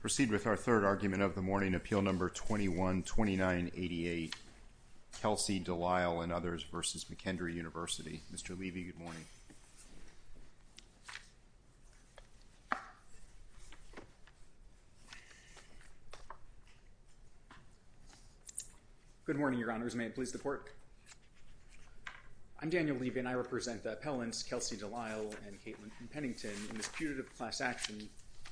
Proceed with our third argument of the morning, Appeal No. 21-2988, Kelsey Delisle v. McKendree University. Mr. Levy, good morning. Good morning, Your Honors. May it please the Court. I'm Daniel Levy and I represent the appellants Kelsey Delisle and Caitlin Pennington in this putative class action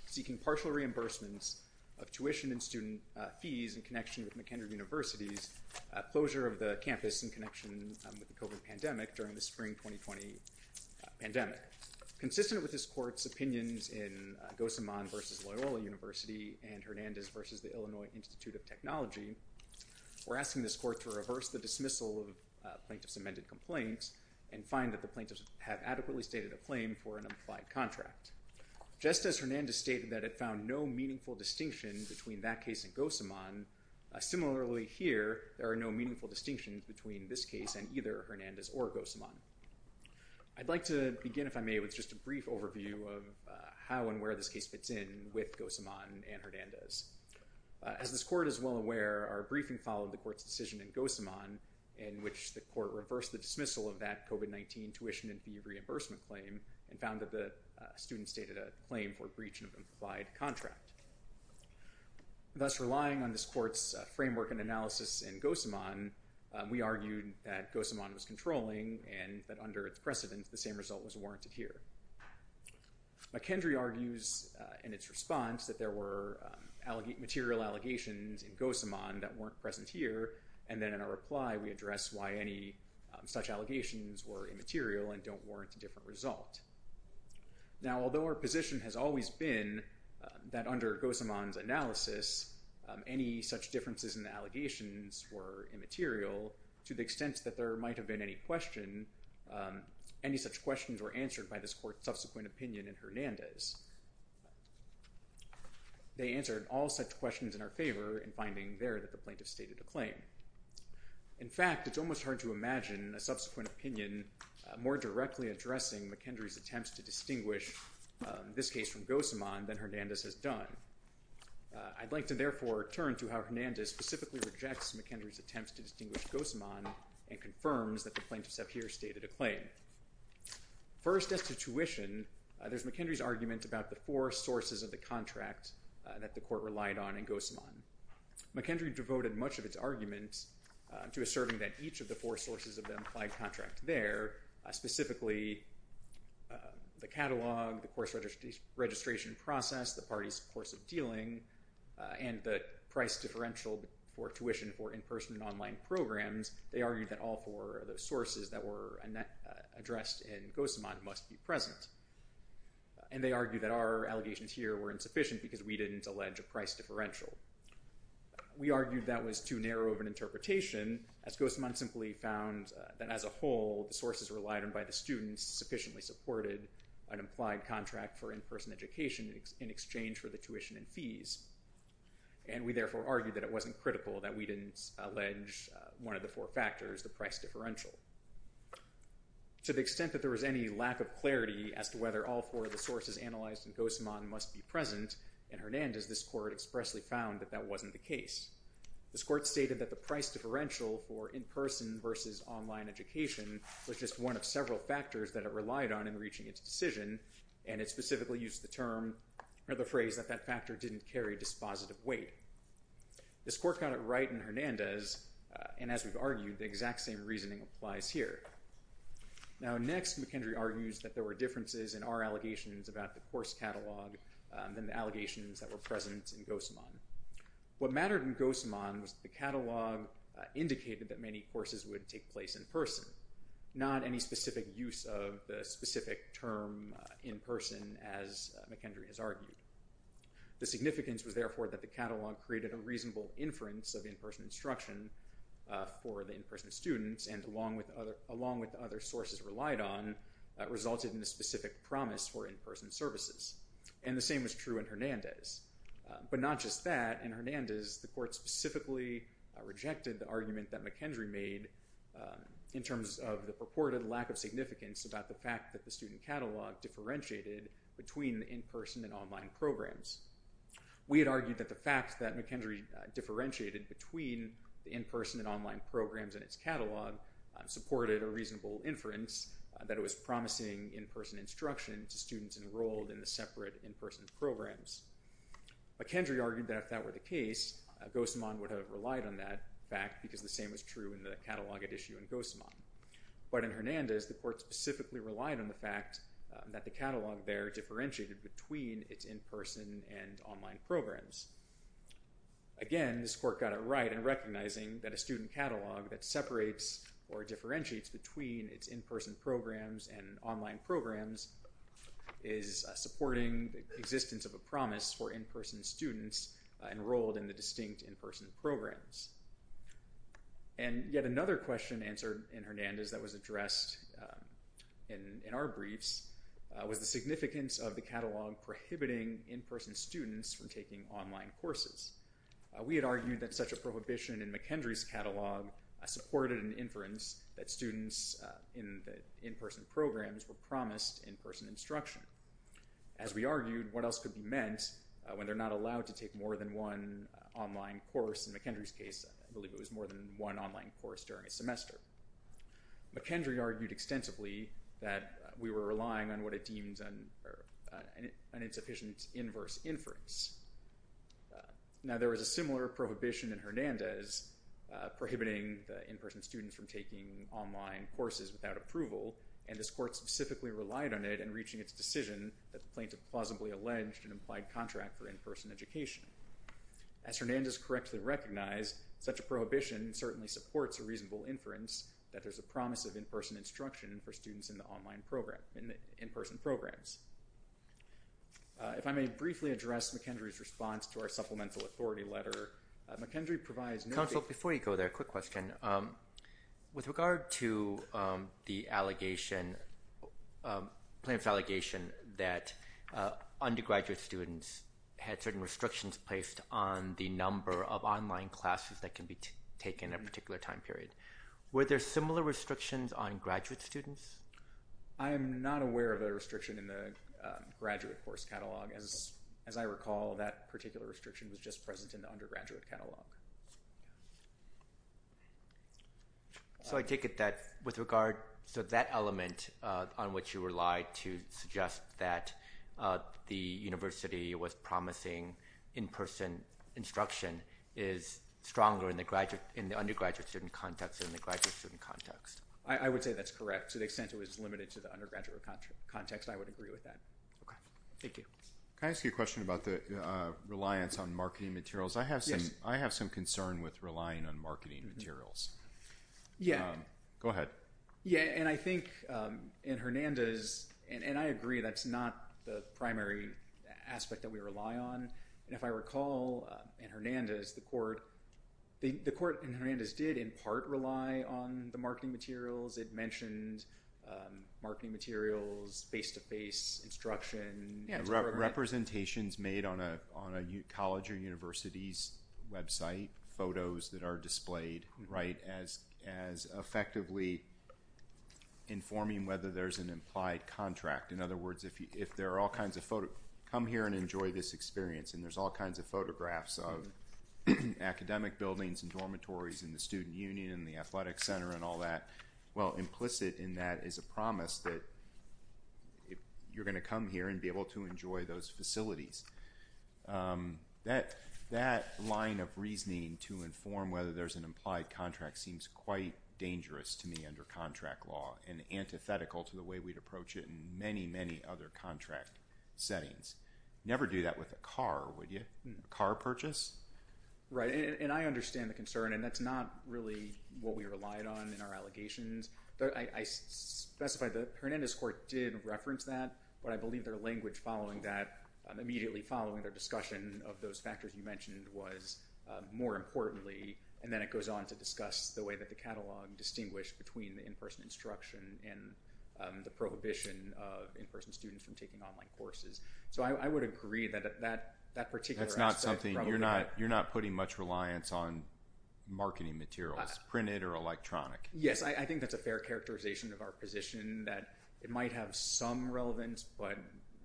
seeking partial reimbursements of tuition and student fees in connection with McKendree University's closure of the campus in connection with the COVID pandemic during the spring 2020 pandemic. Consistent with this Court's opinions in Gossamon v. Loyola University and Hernandez v. Illinois Institute of Technology, we're asking this Court to reverse the dismissal of plaintiff's amended complaints and find that the plaintiffs have adequately stated a claim for an implied contract. Just as Hernandez stated that it found no meaningful distinction between that case and Gossamon, similarly here there are no meaningful distinctions between this case and either Hernandez or Gossamon. I'd like to begin, if I may, with just a brief overview of how and where this case fits in with Gossamon and Hernandez. As this Court is well aware, our briefing followed the Court's decision in Gossamon in which the Court reversed the dismissal of that COVID-19 tuition and fee reimbursement claim and found that the student stated a claim for a breach of an implied contract. Thus relying on this Court's framework and analysis in Gossamon, we argued that Gossamon was controlling and that under its precedent the same result was warranted here. McKendree argues in its response that there were material allegations in Gossamon that weren't present here and then in our reply we address why any such allegations were immaterial and don't warrant a different result. Now although our position has always been that under Gossamon's analysis any such differences in the allegations were immaterial, to the extent that there might have been any question, any such questions were answered by this Court's subsequent opinion in Hernandez. They answered all such questions in our favor in finding there that the plaintiff stated a claim. In fact, it's almost hard to imagine a subsequent opinion more directly addressing McKendree's attempts to distinguish this case from Gossamon than Hernandez has done. I'd like to therefore turn to how Hernandez specifically rejects McKendree's attempts to distinguish Gossamon and confirms that the plaintiffs have here stated a claim. First, as to tuition, there's McKendree's argument about the four sources of the contract that the Court relied on in Gossamon. McKendree devoted much of its argument to asserting that each of the four sources of the implied contract there, specifically the catalog, the course registration process, the parties' course of dealing, and the price differential for tuition for in-person and online programs. They argued that all four of those sources that were addressed in Gossamon must be present. And they argued that our allegations here were insufficient because we didn't allege a price differential. We argued that was too narrow of an interpretation as Gossamon simply found that as a whole, the sources relied on by the students sufficiently supported an implied contract for in-person education in exchange for the tuition and fees. And we therefore argued that it wasn't critical that we didn't allege one of the four factors, the price differential. To the extent that there was any lack of clarity as to whether all four of the sources analyzed in Gossamon must be present, in Hernandez, this Court expressly found that that wasn't the case. This Court stated that the price differential for in-person versus online education was just one of several factors that it relied on in reaching its decision, and it specifically used the phrase that that factor didn't carry dispositive weight. This Court got it right in Hernandez, and as we've argued, the exact same reasoning applies here. Now next, McKendry argues that there were differences in our allegations about the course catalog than the allegations that were present in Gossamon. What mattered in Gossamon was the catalog indicated that many courses would take place in person, not any specific use of the specific term in person as McKendry has argued. The significance was therefore that the catalog created a reasonable inference of in-person instruction for the in-person students, and along with other sources relied on, resulted in a specific promise for in-person services. And the same was true in Hernandez. But not just that, in Hernandez, the Court specifically rejected the argument that McKendry made in terms of the purported lack of significance about the fact that the student catalog differentiated between in-person and online programs. We had argued that the fact that McKendry differentiated between the in-person and online programs in its catalog supported a reasonable inference that it was promising in-person instruction to students enrolled in the separate in-person programs. McKendry argued that if that were the case, Gossamon would have relied on that fact because the same was true in the catalog at issue in Gossamon. But in Hernandez, the Court specifically relied on the fact that the catalog there differentiated between its in-person and online programs. Again, this Court got it right in recognizing that a student catalog that separates or differentiates between its in-person programs and online programs is supporting the existence of a promise for in-person students enrolled in the distinct in-person programs. And yet another question answered in Hernandez that was addressed in our briefs was the significance of the catalog prohibiting in-person students from taking online courses. We had argued that such a prohibition in McKendry's catalog supported an inference that students in the in-person programs were promised in-person instruction. As we argued, what else could be meant when they're not allowed to take more than one online course? In McKendry's case, I believe it was more than one online course during a semester. McKendry argued extensively that we were relying on what it deemed an insufficient inverse inference. Now, there was a similar prohibition in Hernandez prohibiting the in-person students from taking online courses without approval, and this Court specifically relied on it in reaching its decision that the plaintiff plausibly alleged an implied contract for in-person education. As Hernandez correctly recognized, such a prohibition certainly supports a reasonable inference that there's a promise of in-person instruction for students in the in-person programs. If I may briefly address McKendry's response to our Supplemental Authority letter, McKendry provides… Counsel, before you go there, a quick question. With regard to the allegation, plaintiff's allegation that undergraduate students had certain restrictions placed on the number of online classes that can be taken at a particular time period, were there similar restrictions on graduate students? I am not aware of a restriction in the graduate course catalog. As I recall, that particular restriction was just present in the undergraduate catalog. So, I take it that with regard… So, that element on which you relied to suggest that the university was promising in-person instruction is stronger in the undergraduate student context than the graduate student context. I would say that's correct. To the extent it was limited to the undergraduate context, I would agree with that. Okay. Thank you. Can I ask you a question about the reliance on marketing materials? Yes. I have some concern with relying on marketing materials. Yeah. Go ahead. Yeah, and I think in Hernandez, and I agree that's not the primary aspect that we rely on. And if I recall, in Hernandez, the court in Hernandez did in part rely on the marketing materials. It mentioned marketing materials, face-to-face instruction. Representations made on a college or university's website, photos that are displayed, right, as effectively informing whether there's an implied contract. In other words, if there are all kinds of photos… There's all kinds of photographs of academic buildings and dormitories in the student union and the athletic center and all that. Well, implicit in that is a promise that you're going to come here and be able to enjoy those facilities. That line of reasoning to inform whether there's an implied contract seems quite dangerous to me under contract law and antithetical to the way we'd approach it in many, many other contract settings. Never do that with a car, would you? A car purchase? Right, and I understand the concern, and that's not really what we relied on in our allegations. I specify that Hernandez court did reference that, but I believe their language following that, immediately following their discussion of those factors you mentioned, was more importantly, and then it goes on to discuss the way that the catalog distinguished between the in-person instruction and the prohibition of in-person students from taking online courses. So I would agree that that particular aspect… You're not putting much reliance on marketing materials, printed or electronic? Yes, I think that's a fair characterization of our position that it might have some relevance, but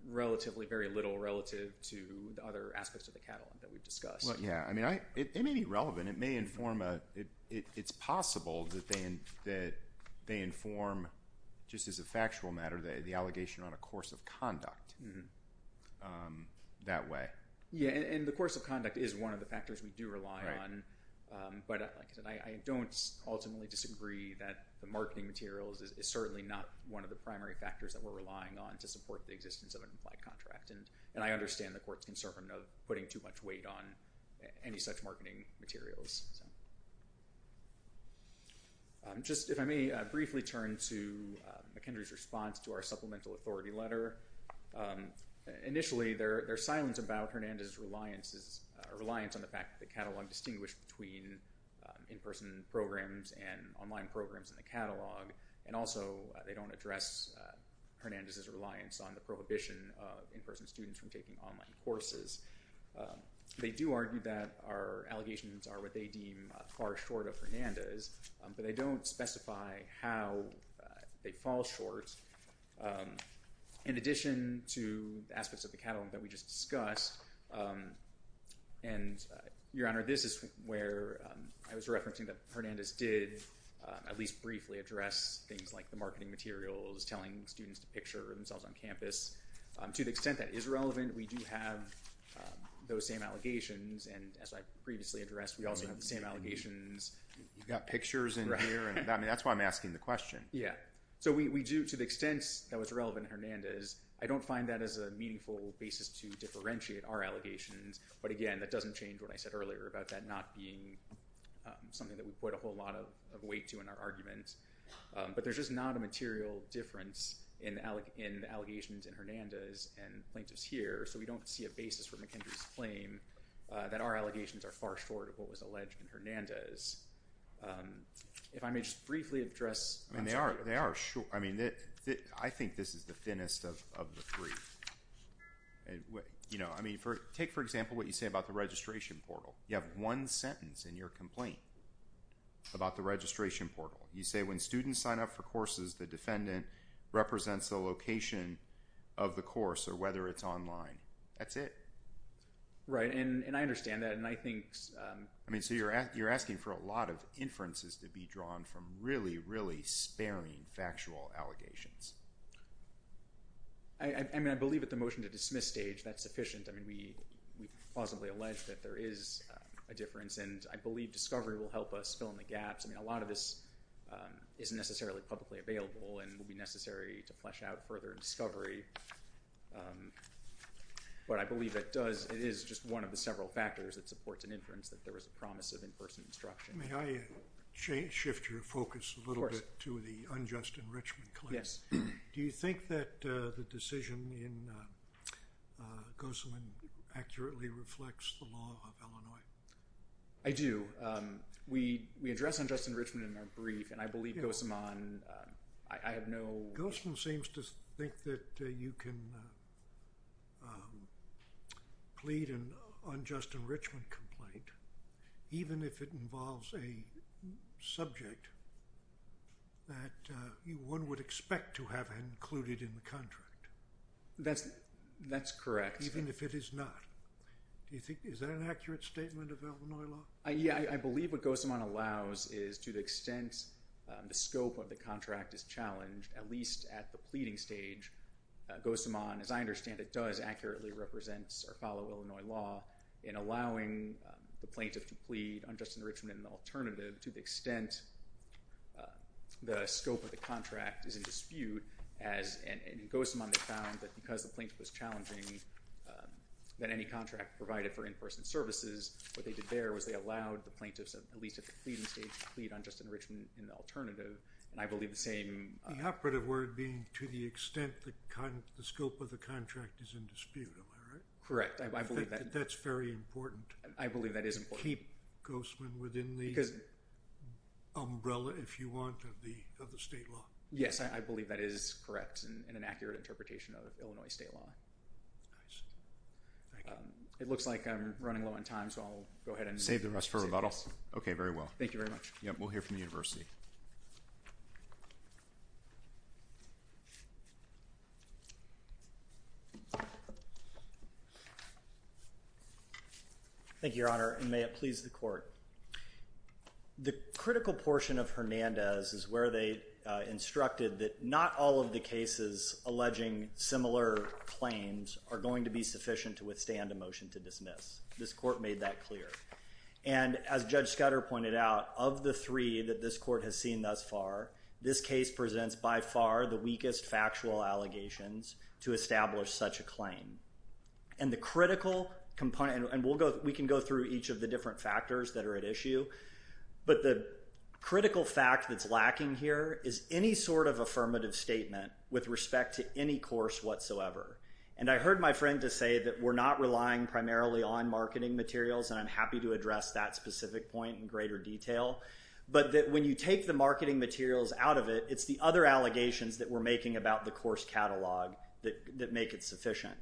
relatively very little relative to the other aspects of the catalog that we've discussed. Yeah, I mean, it may be relevant. It's possible that they inform, just as a factual matter, the allegation on a course of conduct that way. Yeah, and the course of conduct is one of the factors we do rely on, but like I said, I don't ultimately disagree that the marketing materials is certainly not one of the primary factors that we're relying on to support the existence of an implied contract, and I understand the court's concern of putting too much weight on any such marketing materials. Just, if I may, briefly turn to McKendree's response to our supplemental authority letter. Initially, there's silence about Hernandez's reliance on the fact that the catalog distinguished between in-person programs and online programs in the catalog, and also they don't address Hernandez's reliance on the prohibition of in-person students from taking online courses. They do argue that our allegations are what they deem far short of Hernandez's, but they don't specify how they fall short. In addition to the aspects of the catalog that we just discussed, and Your Honor, this is where I was referencing that Hernandez did at least briefly address things like the marketing materials, telling students to picture themselves on campus. To the extent that is relevant, we do have those same allegations, and as I previously addressed, we also have the same allegations. You've got pictures in here, and that's why I'm asking the question. So we do, to the extent that was relevant to Hernandez, I don't find that as a meaningful basis to differentiate our allegations, but again, that doesn't change what I said earlier about that not being something that we put a whole lot of weight to in our arguments. But there's just not a material difference in allegations in Hernandez and plaintiffs here, so we don't see a basis for McKendree's claim that our allegations are far short of what was alleged in Hernandez. If I may just briefly address… They are short. I think this is the thinnest of the three. Take, for example, what you say about the registration portal. You have one sentence in your complaint about the registration portal. You say, when students sign up for courses, the defendant represents the location of the course or whether it's online. That's it. Right, and I understand that, and I think… I mean, so you're asking for a lot of inferences to be drawn from really, really sparing factual allegations. I mean, I believe at the motion-to-dismiss stage, that's sufficient. I mean, we plausibly allege that there is a difference, and I believe discovery will help us fill in the gaps. I mean, a lot of this isn't necessarily publicly available and will be necessary to flesh out further in discovery. But I believe it is just one of the several factors that supports an inference that there was a promise of in-person instruction. May I shift your focus a little bit to the unjust enrichment claim? Yes. Do you think that the decision in Gossamon accurately reflects the law of Illinois? I do. We address unjust enrichment in our brief, and I believe Gossamon… Gossamon seems to think that you can plead an unjust enrichment complaint even if it involves a subject that one would expect to have included in the contract. That's correct. Even if it is not. Is that an accurate statement of Illinois law? Yeah, I believe what Gossamon allows is to the extent the scope of the contract is challenged, at least at the pleading stage. Gossamon, as I understand it, does accurately represent or follow Illinois law in allowing the plaintiff to plead unjust enrichment in an alternative to the extent the scope of the contract is in dispute. And in Gossamon, they found that because the plaintiff was challenging that any contract provided for in-person services, what they did there was they allowed the plaintiffs, at least at the pleading stage, to plead unjust enrichment in the alternative. And I believe the same… The operative word being to the extent the scope of the contract is in dispute. Am I right? Correct. I believe that… That's very important. I believe that is important. Can you keep Gossamon within the umbrella, if you want, of the state law? Yes, I believe that is correct and an accurate interpretation of Illinois state law. It looks like I'm running low on time, so I'll go ahead and… Save the rest for rebuttal. Okay, very well. Thank you very much. We'll hear from the University. Thank you, Your Honor, and may it please the Court. The critical portion of Hernandez is where they instructed that not all of the cases alleging similar claims are going to be sufficient to withstand a motion to dismiss. This Court made that clear. And as Judge Scudder pointed out, of the three that this Court has seen thus far, this case presents by far the weakest factual allegations to establish such a claim. And the critical component… And we can go through each of the different factors that are at issue, but the critical fact that's lacking here is any sort of affirmative statement with respect to any course whatsoever. And I heard my friend just say that we're not relying primarily on marketing materials, and I'm happy to address that specific point in greater detail, but that when you take the marketing materials out of it, it's the other allegations that we're making about the course catalog that make it sufficient.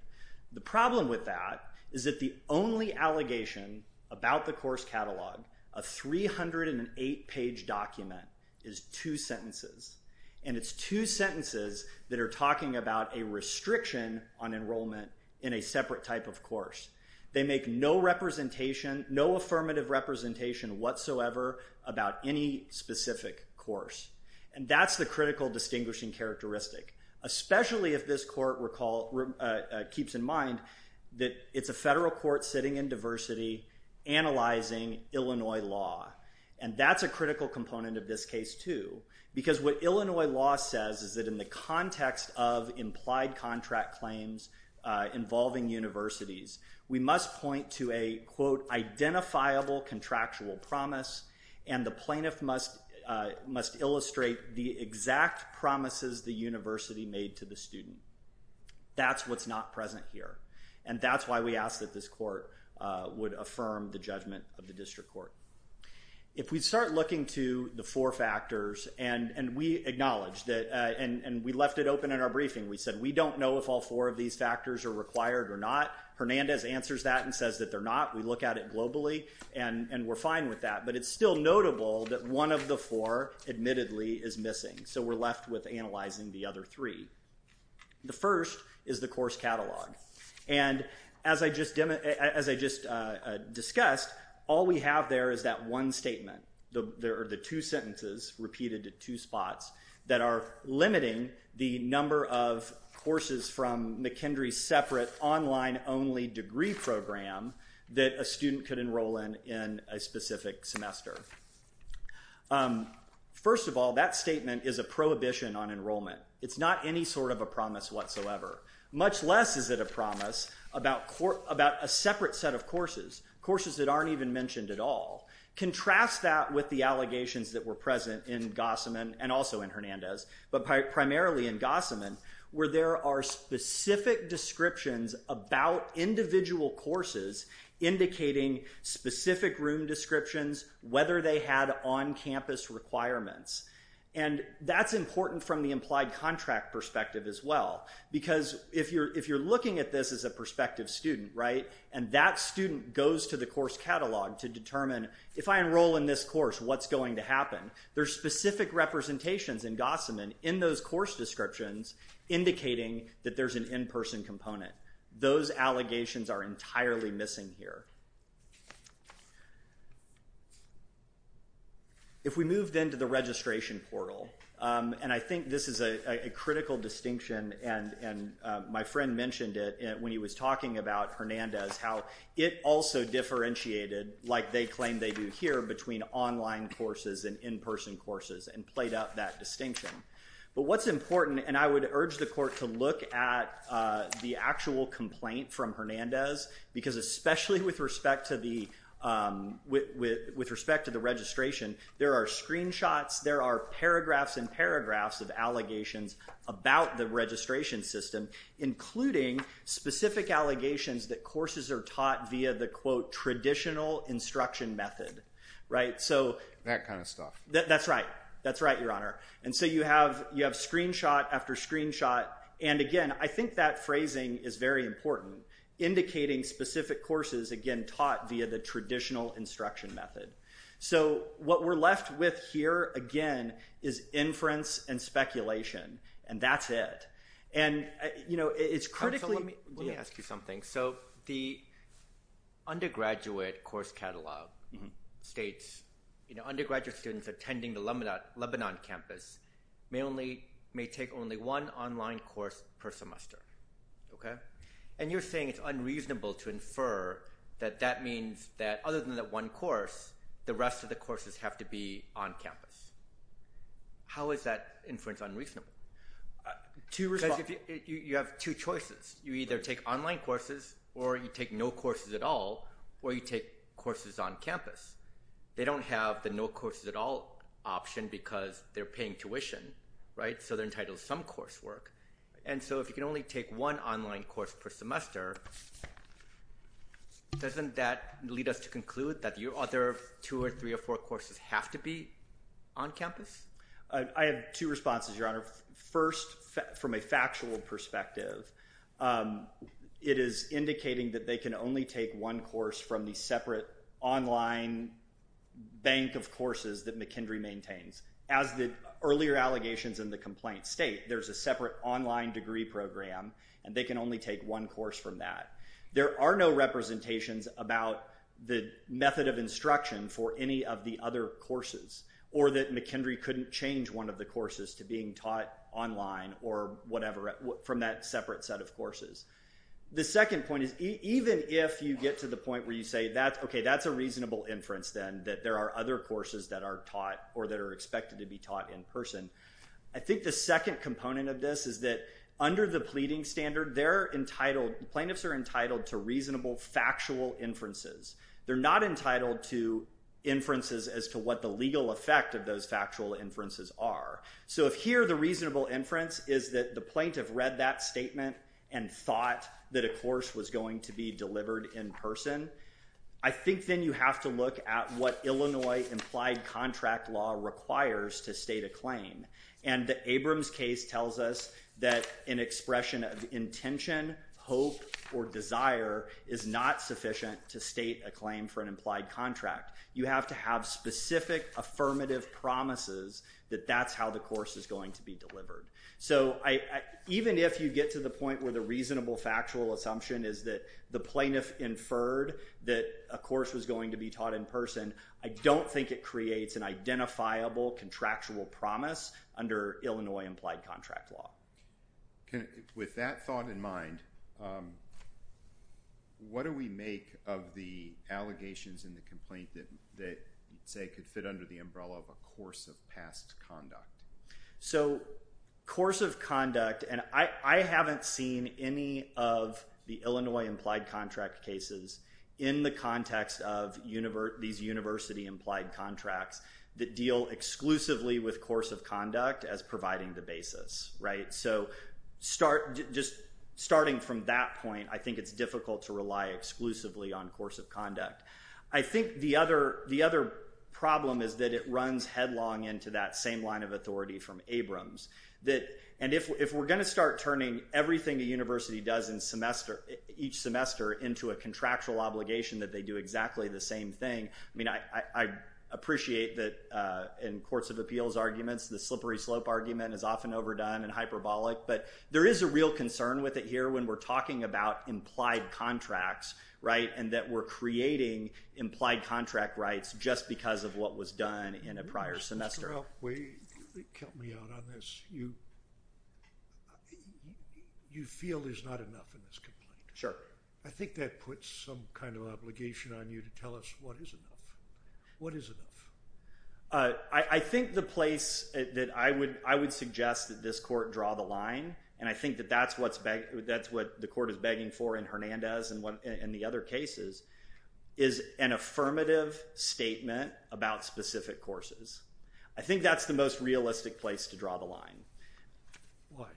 The problem with that is that the only allegation about the course catalog, a 308-page document, is two sentences. And it's two sentences that are talking about a restriction on enrollment in a separate type of course. They make no representation, no affirmative representation whatsoever about any specific course. And that's the critical distinguishing characteristic, especially if this Court keeps in mind that it's a federal court sitting in diversity analyzing Illinois law. And that's a critical component of this case too, because what Illinois law says is that in the context of implied contract claims involving universities, we must point to a, quote, identifiable contractual promise, and the plaintiff must illustrate the exact promises the university made to the student. That's what's not present here, and that's why we ask that this Court would affirm the judgment of the district court. If we start looking to the four factors, and we acknowledge that, and we left it open in our briefing. We said we don't know if all four of these factors are required or not. Hernandez answers that and says that they're not. We look at it globally, and we're fine with that. But it's still notable that one of the four, admittedly, is missing, so we're left with analyzing the other three. The first is the course catalog. And as I just discussed, all we have there is that one statement. There are the two sentences, repeated at two spots, that are limiting the number of courses from McKendree's separate online-only degree program that a student could enroll in in a specific semester. First of all, that statement is a prohibition on enrollment. It's not any sort of a promise whatsoever, much less is it a promise about a separate set of courses, courses that aren't even mentioned at all. Contrast that with the allegations that were present in Gossaman and also in Hernandez, but primarily in Gossaman, where there are specific descriptions about individual courses indicating specific room descriptions, whether they had on-campus requirements. And that's important from the implied contract perspective as well, because if you're looking at this as a prospective student, right, and that student goes to the course catalog to determine, if I enroll in this course, what's going to happen? There's specific representations in Gossaman in those course descriptions indicating that there's an in-person component. Those allegations are entirely missing here. If we moved into the registration portal, and I think this is a critical distinction, and my friend mentioned it when he was talking about Hernandez, how it also differentiated, like they claim they do here, between online courses and in-person courses and played out that distinction. But what's important, and I would urge the court to look at the actual complaint from Hernandez, because especially with respect to the registration, there are screenshots, there are paragraphs and paragraphs of allegations about the registration system, including specific allegations that courses are taught via the, quote, traditional instruction method, right? So you have screenshot after screenshot, and again, I think that phrasing is very important, indicating specific courses, again, taught via the traditional instruction method. So what we're left with here, again, is inference and speculation, and that's it. Let me ask you something. So the undergraduate course catalog states undergraduate students attending the Lebanon campus may take only one online course per semester, okay? And you're saying it's unreasonable to infer that that means that other than that one course, the rest of the courses have to be on campus. How is that inference unreasonable? Because you have two choices. You either take online courses or you take no courses at all, or you take courses on campus. They don't have the no courses at all option because they're paying tuition, right? So they're entitled to some coursework. And so if you can only take one online course per semester, doesn't that lead us to conclude that your other two or three or four courses have to be on campus? I have two responses, Your Honor. First, from a factual perspective, it is indicating that they can only take one course from the separate online bank of courses that McKendree maintains. As the earlier allegations in the complaint state, there's a separate online degree program, and they can only take one course from that. There are no representations about the method of instruction for any of the other courses or that McKendree couldn't change one of the courses to being taught online or whatever from that separate set of courses. The second point is even if you get to the point where you say that's okay, that's a reasonable inference then that there are other courses that are taught or that are expected to be taught in person. I think the second component of this is that under the pleading standard, plaintiffs are entitled to reasonable factual inferences. They're not entitled to inferences as to what the legal effect of those factual inferences are. So if here the reasonable inference is that the plaintiff read that statement and thought that a course was going to be delivered in person, I think then you have to look at what Illinois implied contract law requires to state a claim. And the Abrams case tells us that an expression of intention, hope, or desire is not sufficient to state a claim for an implied contract. You have to have specific affirmative promises that that's how the course is going to be delivered. So even if you get to the point where the reasonable factual assumption is that the plaintiff inferred that a course was going to be taught in person, I don't think it creates an identifiable contractual promise under Illinois implied contract law. With that thought in mind, what do we make of the allegations in the complaint that say could fit under the umbrella of a course of past conduct? So course of conduct, and I haven't seen any of the Illinois implied contract cases in the context of these university implied contracts that deal exclusively with course of conduct as providing the basis. So just starting from that point, I think it's difficult to rely exclusively on course of conduct. I think the other problem is that it runs headlong into that same line of authority from Abrams. And if we're going to start turning everything a university does each semester into a contractual obligation that they do exactly the same thing, I appreciate that in courts of appeals arguments, the slippery slope argument is often overdone and hyperbolic. But there is a real concern with it here when we're talking about implied contracts and that we're creating implied contract rights just because of what was done in a prior semester. Mr. Elkway, help me out on this. You feel there's not enough in this complaint. Sure. I think that puts some kind of obligation on you to tell us what is enough. What is enough? I think the place that I would suggest that this court draw the line, and I think that that's what the court is begging for in Hernandez and the other cases, is an affirmative statement about specific courses. I think that's the most realistic place to draw the line. Why?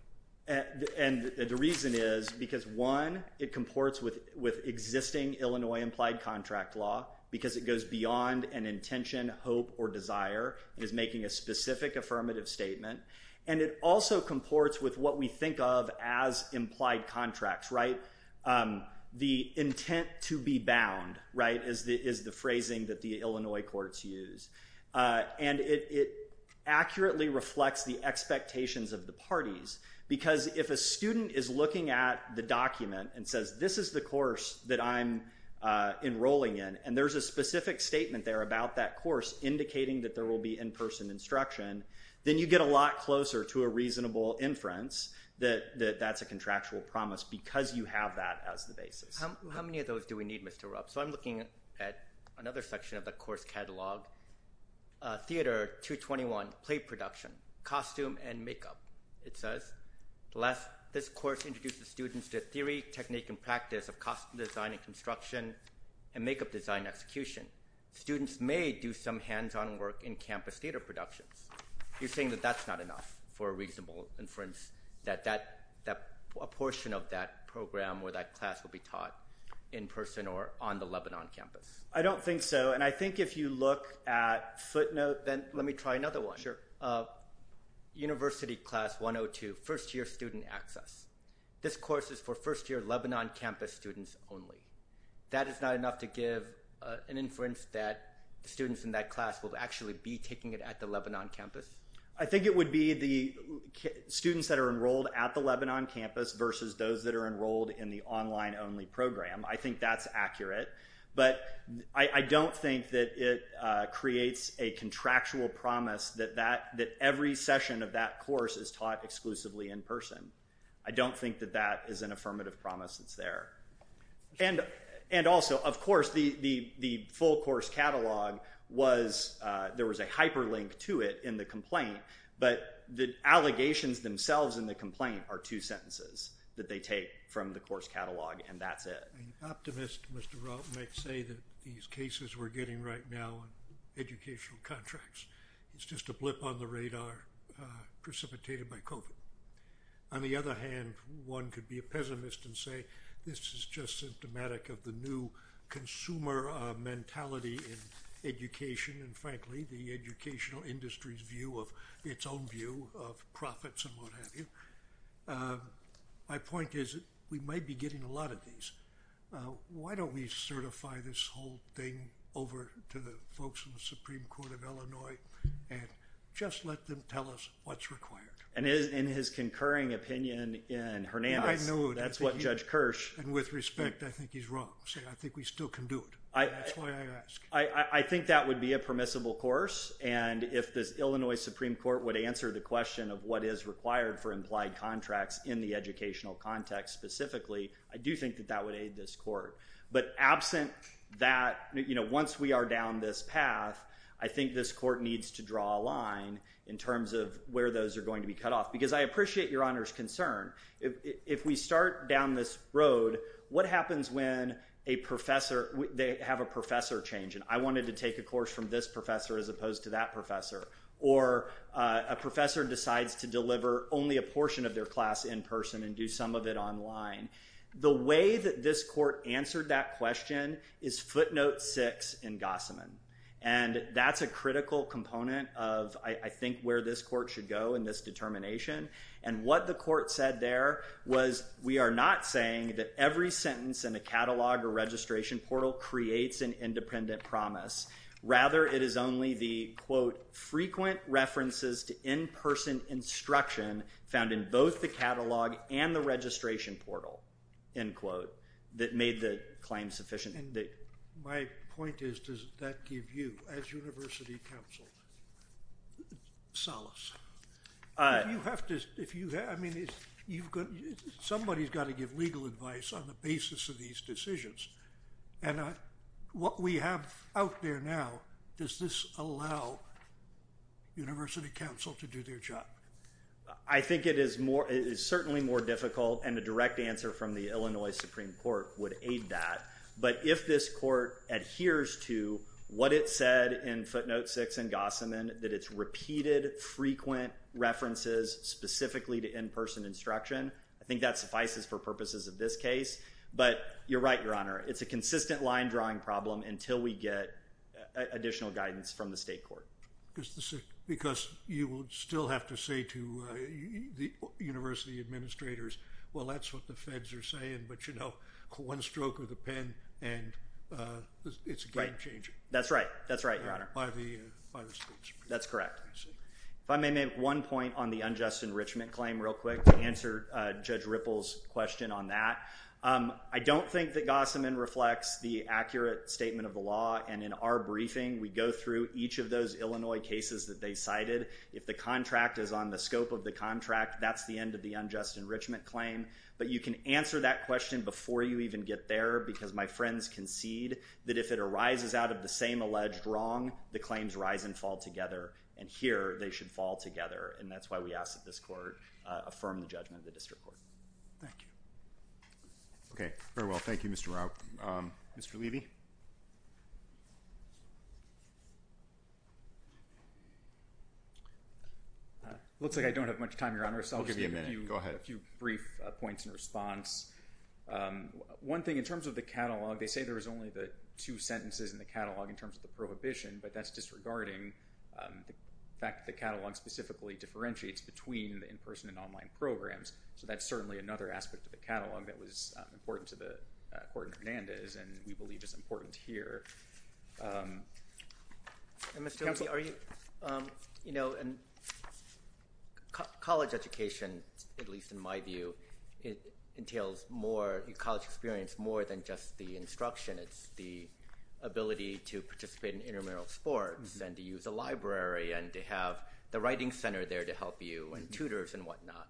And the reason is because, one, it comports with existing Illinois implied contract law because it goes beyond an intention, hope, or desire. It is making a specific affirmative statement. And it also comports with what we think of as implied contracts, right? The intent to be bound, right, is the phrasing that the Illinois courts use. And it accurately reflects the expectations of the parties because if a student is looking at the document and says, this is the course that I'm enrolling in, and there's a specific statement there about that course indicating that there will be in-person instruction, then you get a lot closer to a reasonable inference that that's a contractual promise because you have that as the basis. How many of those do we need, Mr. Rupp? So I'm looking at another section of the course catalog, Theater 221, Play Production, Costume and Makeup. It says, this course introduces students to theory, technique, and practice of costume design and construction and makeup design and execution. Students may do some hands-on work in campus theater productions. You're saying that that's not enough for a reasonable inference that a portion of that program or that class will be taught in person or on the Lebanon campus? I don't think so. And I think if you look at footnote, then let me try another one. Sure. University Class 102, First-Year Student Access. This course is for first-year Lebanon campus students only. That is not enough to give an inference that students in that class will actually be taking it at the Lebanon campus? I think it would be the students that are enrolled at the Lebanon campus versus those that are enrolled in the online-only program. I think that's accurate. But I don't think that it creates a contractual promise that every session of that course is taught exclusively in person. I don't think that that is an affirmative promise that's there. And also, of course, the full course catalog, there was a hyperlink to it in the complaint. But the allegations themselves in the complaint are two sentences that they take from the course catalog, and that's it. An optimist, Mr. Rault, might say that these cases we're getting right now in educational contracts, it's just a blip on the radar precipitated by COVID. On the other hand, one could be a pessimist and say this is just symptomatic of the new consumer mentality in education, and frankly, the educational industry's view of its own view of profits and what have you. My point is we might be getting a lot of these. Why don't we certify this whole thing over to the folks in the Supreme Court of Illinois and just let them tell us what's required? And in his concurring opinion in Hernandez, that's what Judge Kirsch. And with respect, I think he's wrong. I think we still can do it. That's why I ask. I think that would be a permissible course. And if this Illinois Supreme Court would answer the question of what is required for implied contracts in the educational context specifically, I do think that that would aid this court. But absent that, once we are down this path, I think this court needs to draw a line in terms of where those are going to be cut off. Because I appreciate Your Honor's concern. If we start down this road, what happens when they have a professor change and I wanted to take a course from this professor as opposed to that professor? Or a professor decides to deliver only a portion of their class in person and do some of it online? The way that this court answered that question is footnote six in Gossamen. And that's a critical component of, I think, where this court should go in this determination. And what the court said there was we are not saying that every sentence in a catalog or registration portal creates an independent promise. Rather, it is only the, quote, frequent references to in-person instruction found in both the catalog and the registration portal, end quote, that made the claim sufficient. My point is, does that give you, as university counsel, solace? Somebody's got to give legal advice on the basis of these decisions. And what we have out there now, does this allow university counsel to do their job? I think it is certainly more difficult and a direct answer from the Illinois Supreme Court would aid that. But if this court adheres to what it said in footnote six in Gossamen, that it's repeated frequent references specifically to in-person instruction, I think that suffices for purposes of this case. But you're right, Your Honor, it's a consistent line drawing problem until we get additional guidance from the state court. Because you would still have to say to the university administrators, well, that's what the feds are saying. But, you know, one stroke of the pen and it's a game changer. That's right. That's right, Your Honor. By the state supreme court. That's correct. If I may make one point on the unjust enrichment claim real quick to answer Judge Ripple's question on that. I don't think that Gossamen reflects the accurate statement of the law. And in our briefing, we go through each of those Illinois cases that they cited. If the contract is on the scope of the contract, that's the end of the unjust enrichment claim. But you can answer that question before you even get there. Because my friends concede that if it arises out of the same alleged wrong, the claims rise and fall together. And here they should fall together. And that's why we ask that this court affirm the judgment of the district court. Thank you. Okay. Very well. Thank you, Mr. Rauch. Mr. Levy. Looks like I don't have much time, Your Honor. I'll give you a minute. Go ahead. A few brief points in response. One thing in terms of the catalog, they say there is only the two sentences in the catalog in terms of the prohibition. But that's disregarding the fact that the catalog specifically differentiates between the in-person and online programs. So that's certainly another aspect of the catalog that was important to the court in Hernandez and we believe is important here. Counsel? You know, college education, at least in my view, entails more college experience more than just the instruction. It's the ability to participate in intramural sports and to use a library and to have the writing center there to help you and tutors and whatnot,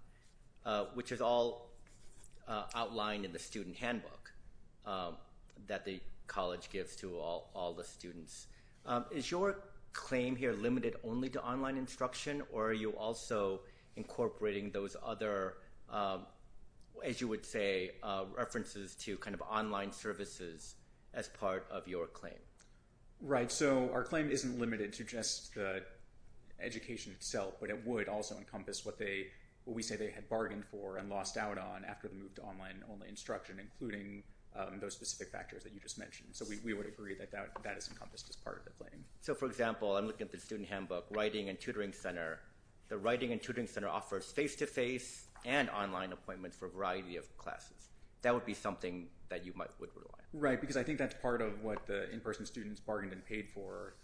which is all outlined in the student handbook that the college gives to all the students. Is your claim here limited only to online instruction or are you also incorporating those other, as you would say, references to kind of online services as part of your claim? Right. So our claim isn't limited to just the education itself, but it would also encompass what we say they had bargained for and lost out on after the move to online instruction, including those specific factors that you just mentioned. So we would agree that that is encompassed as part of the claim. So, for example, I'm looking at the student handbook, writing and tutoring center. The writing and tutoring center offers face-to-face and online appointments for a variety of classes. That would be something that you would rely on. Right, because I think that's part of what the in-person students bargained and paid for.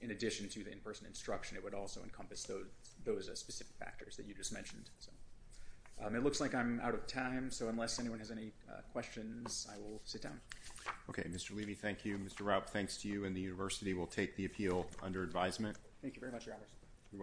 In addition to the in-person instruction, it would also encompass those specific factors that you just mentioned. It looks like I'm out of time, so unless anyone has any questions, I will sit down. Okay, Mr. Levy, thank you. Mr. Raup, thanks to you, and the university will take the appeal under advisement. Thank you very much, Your Honors.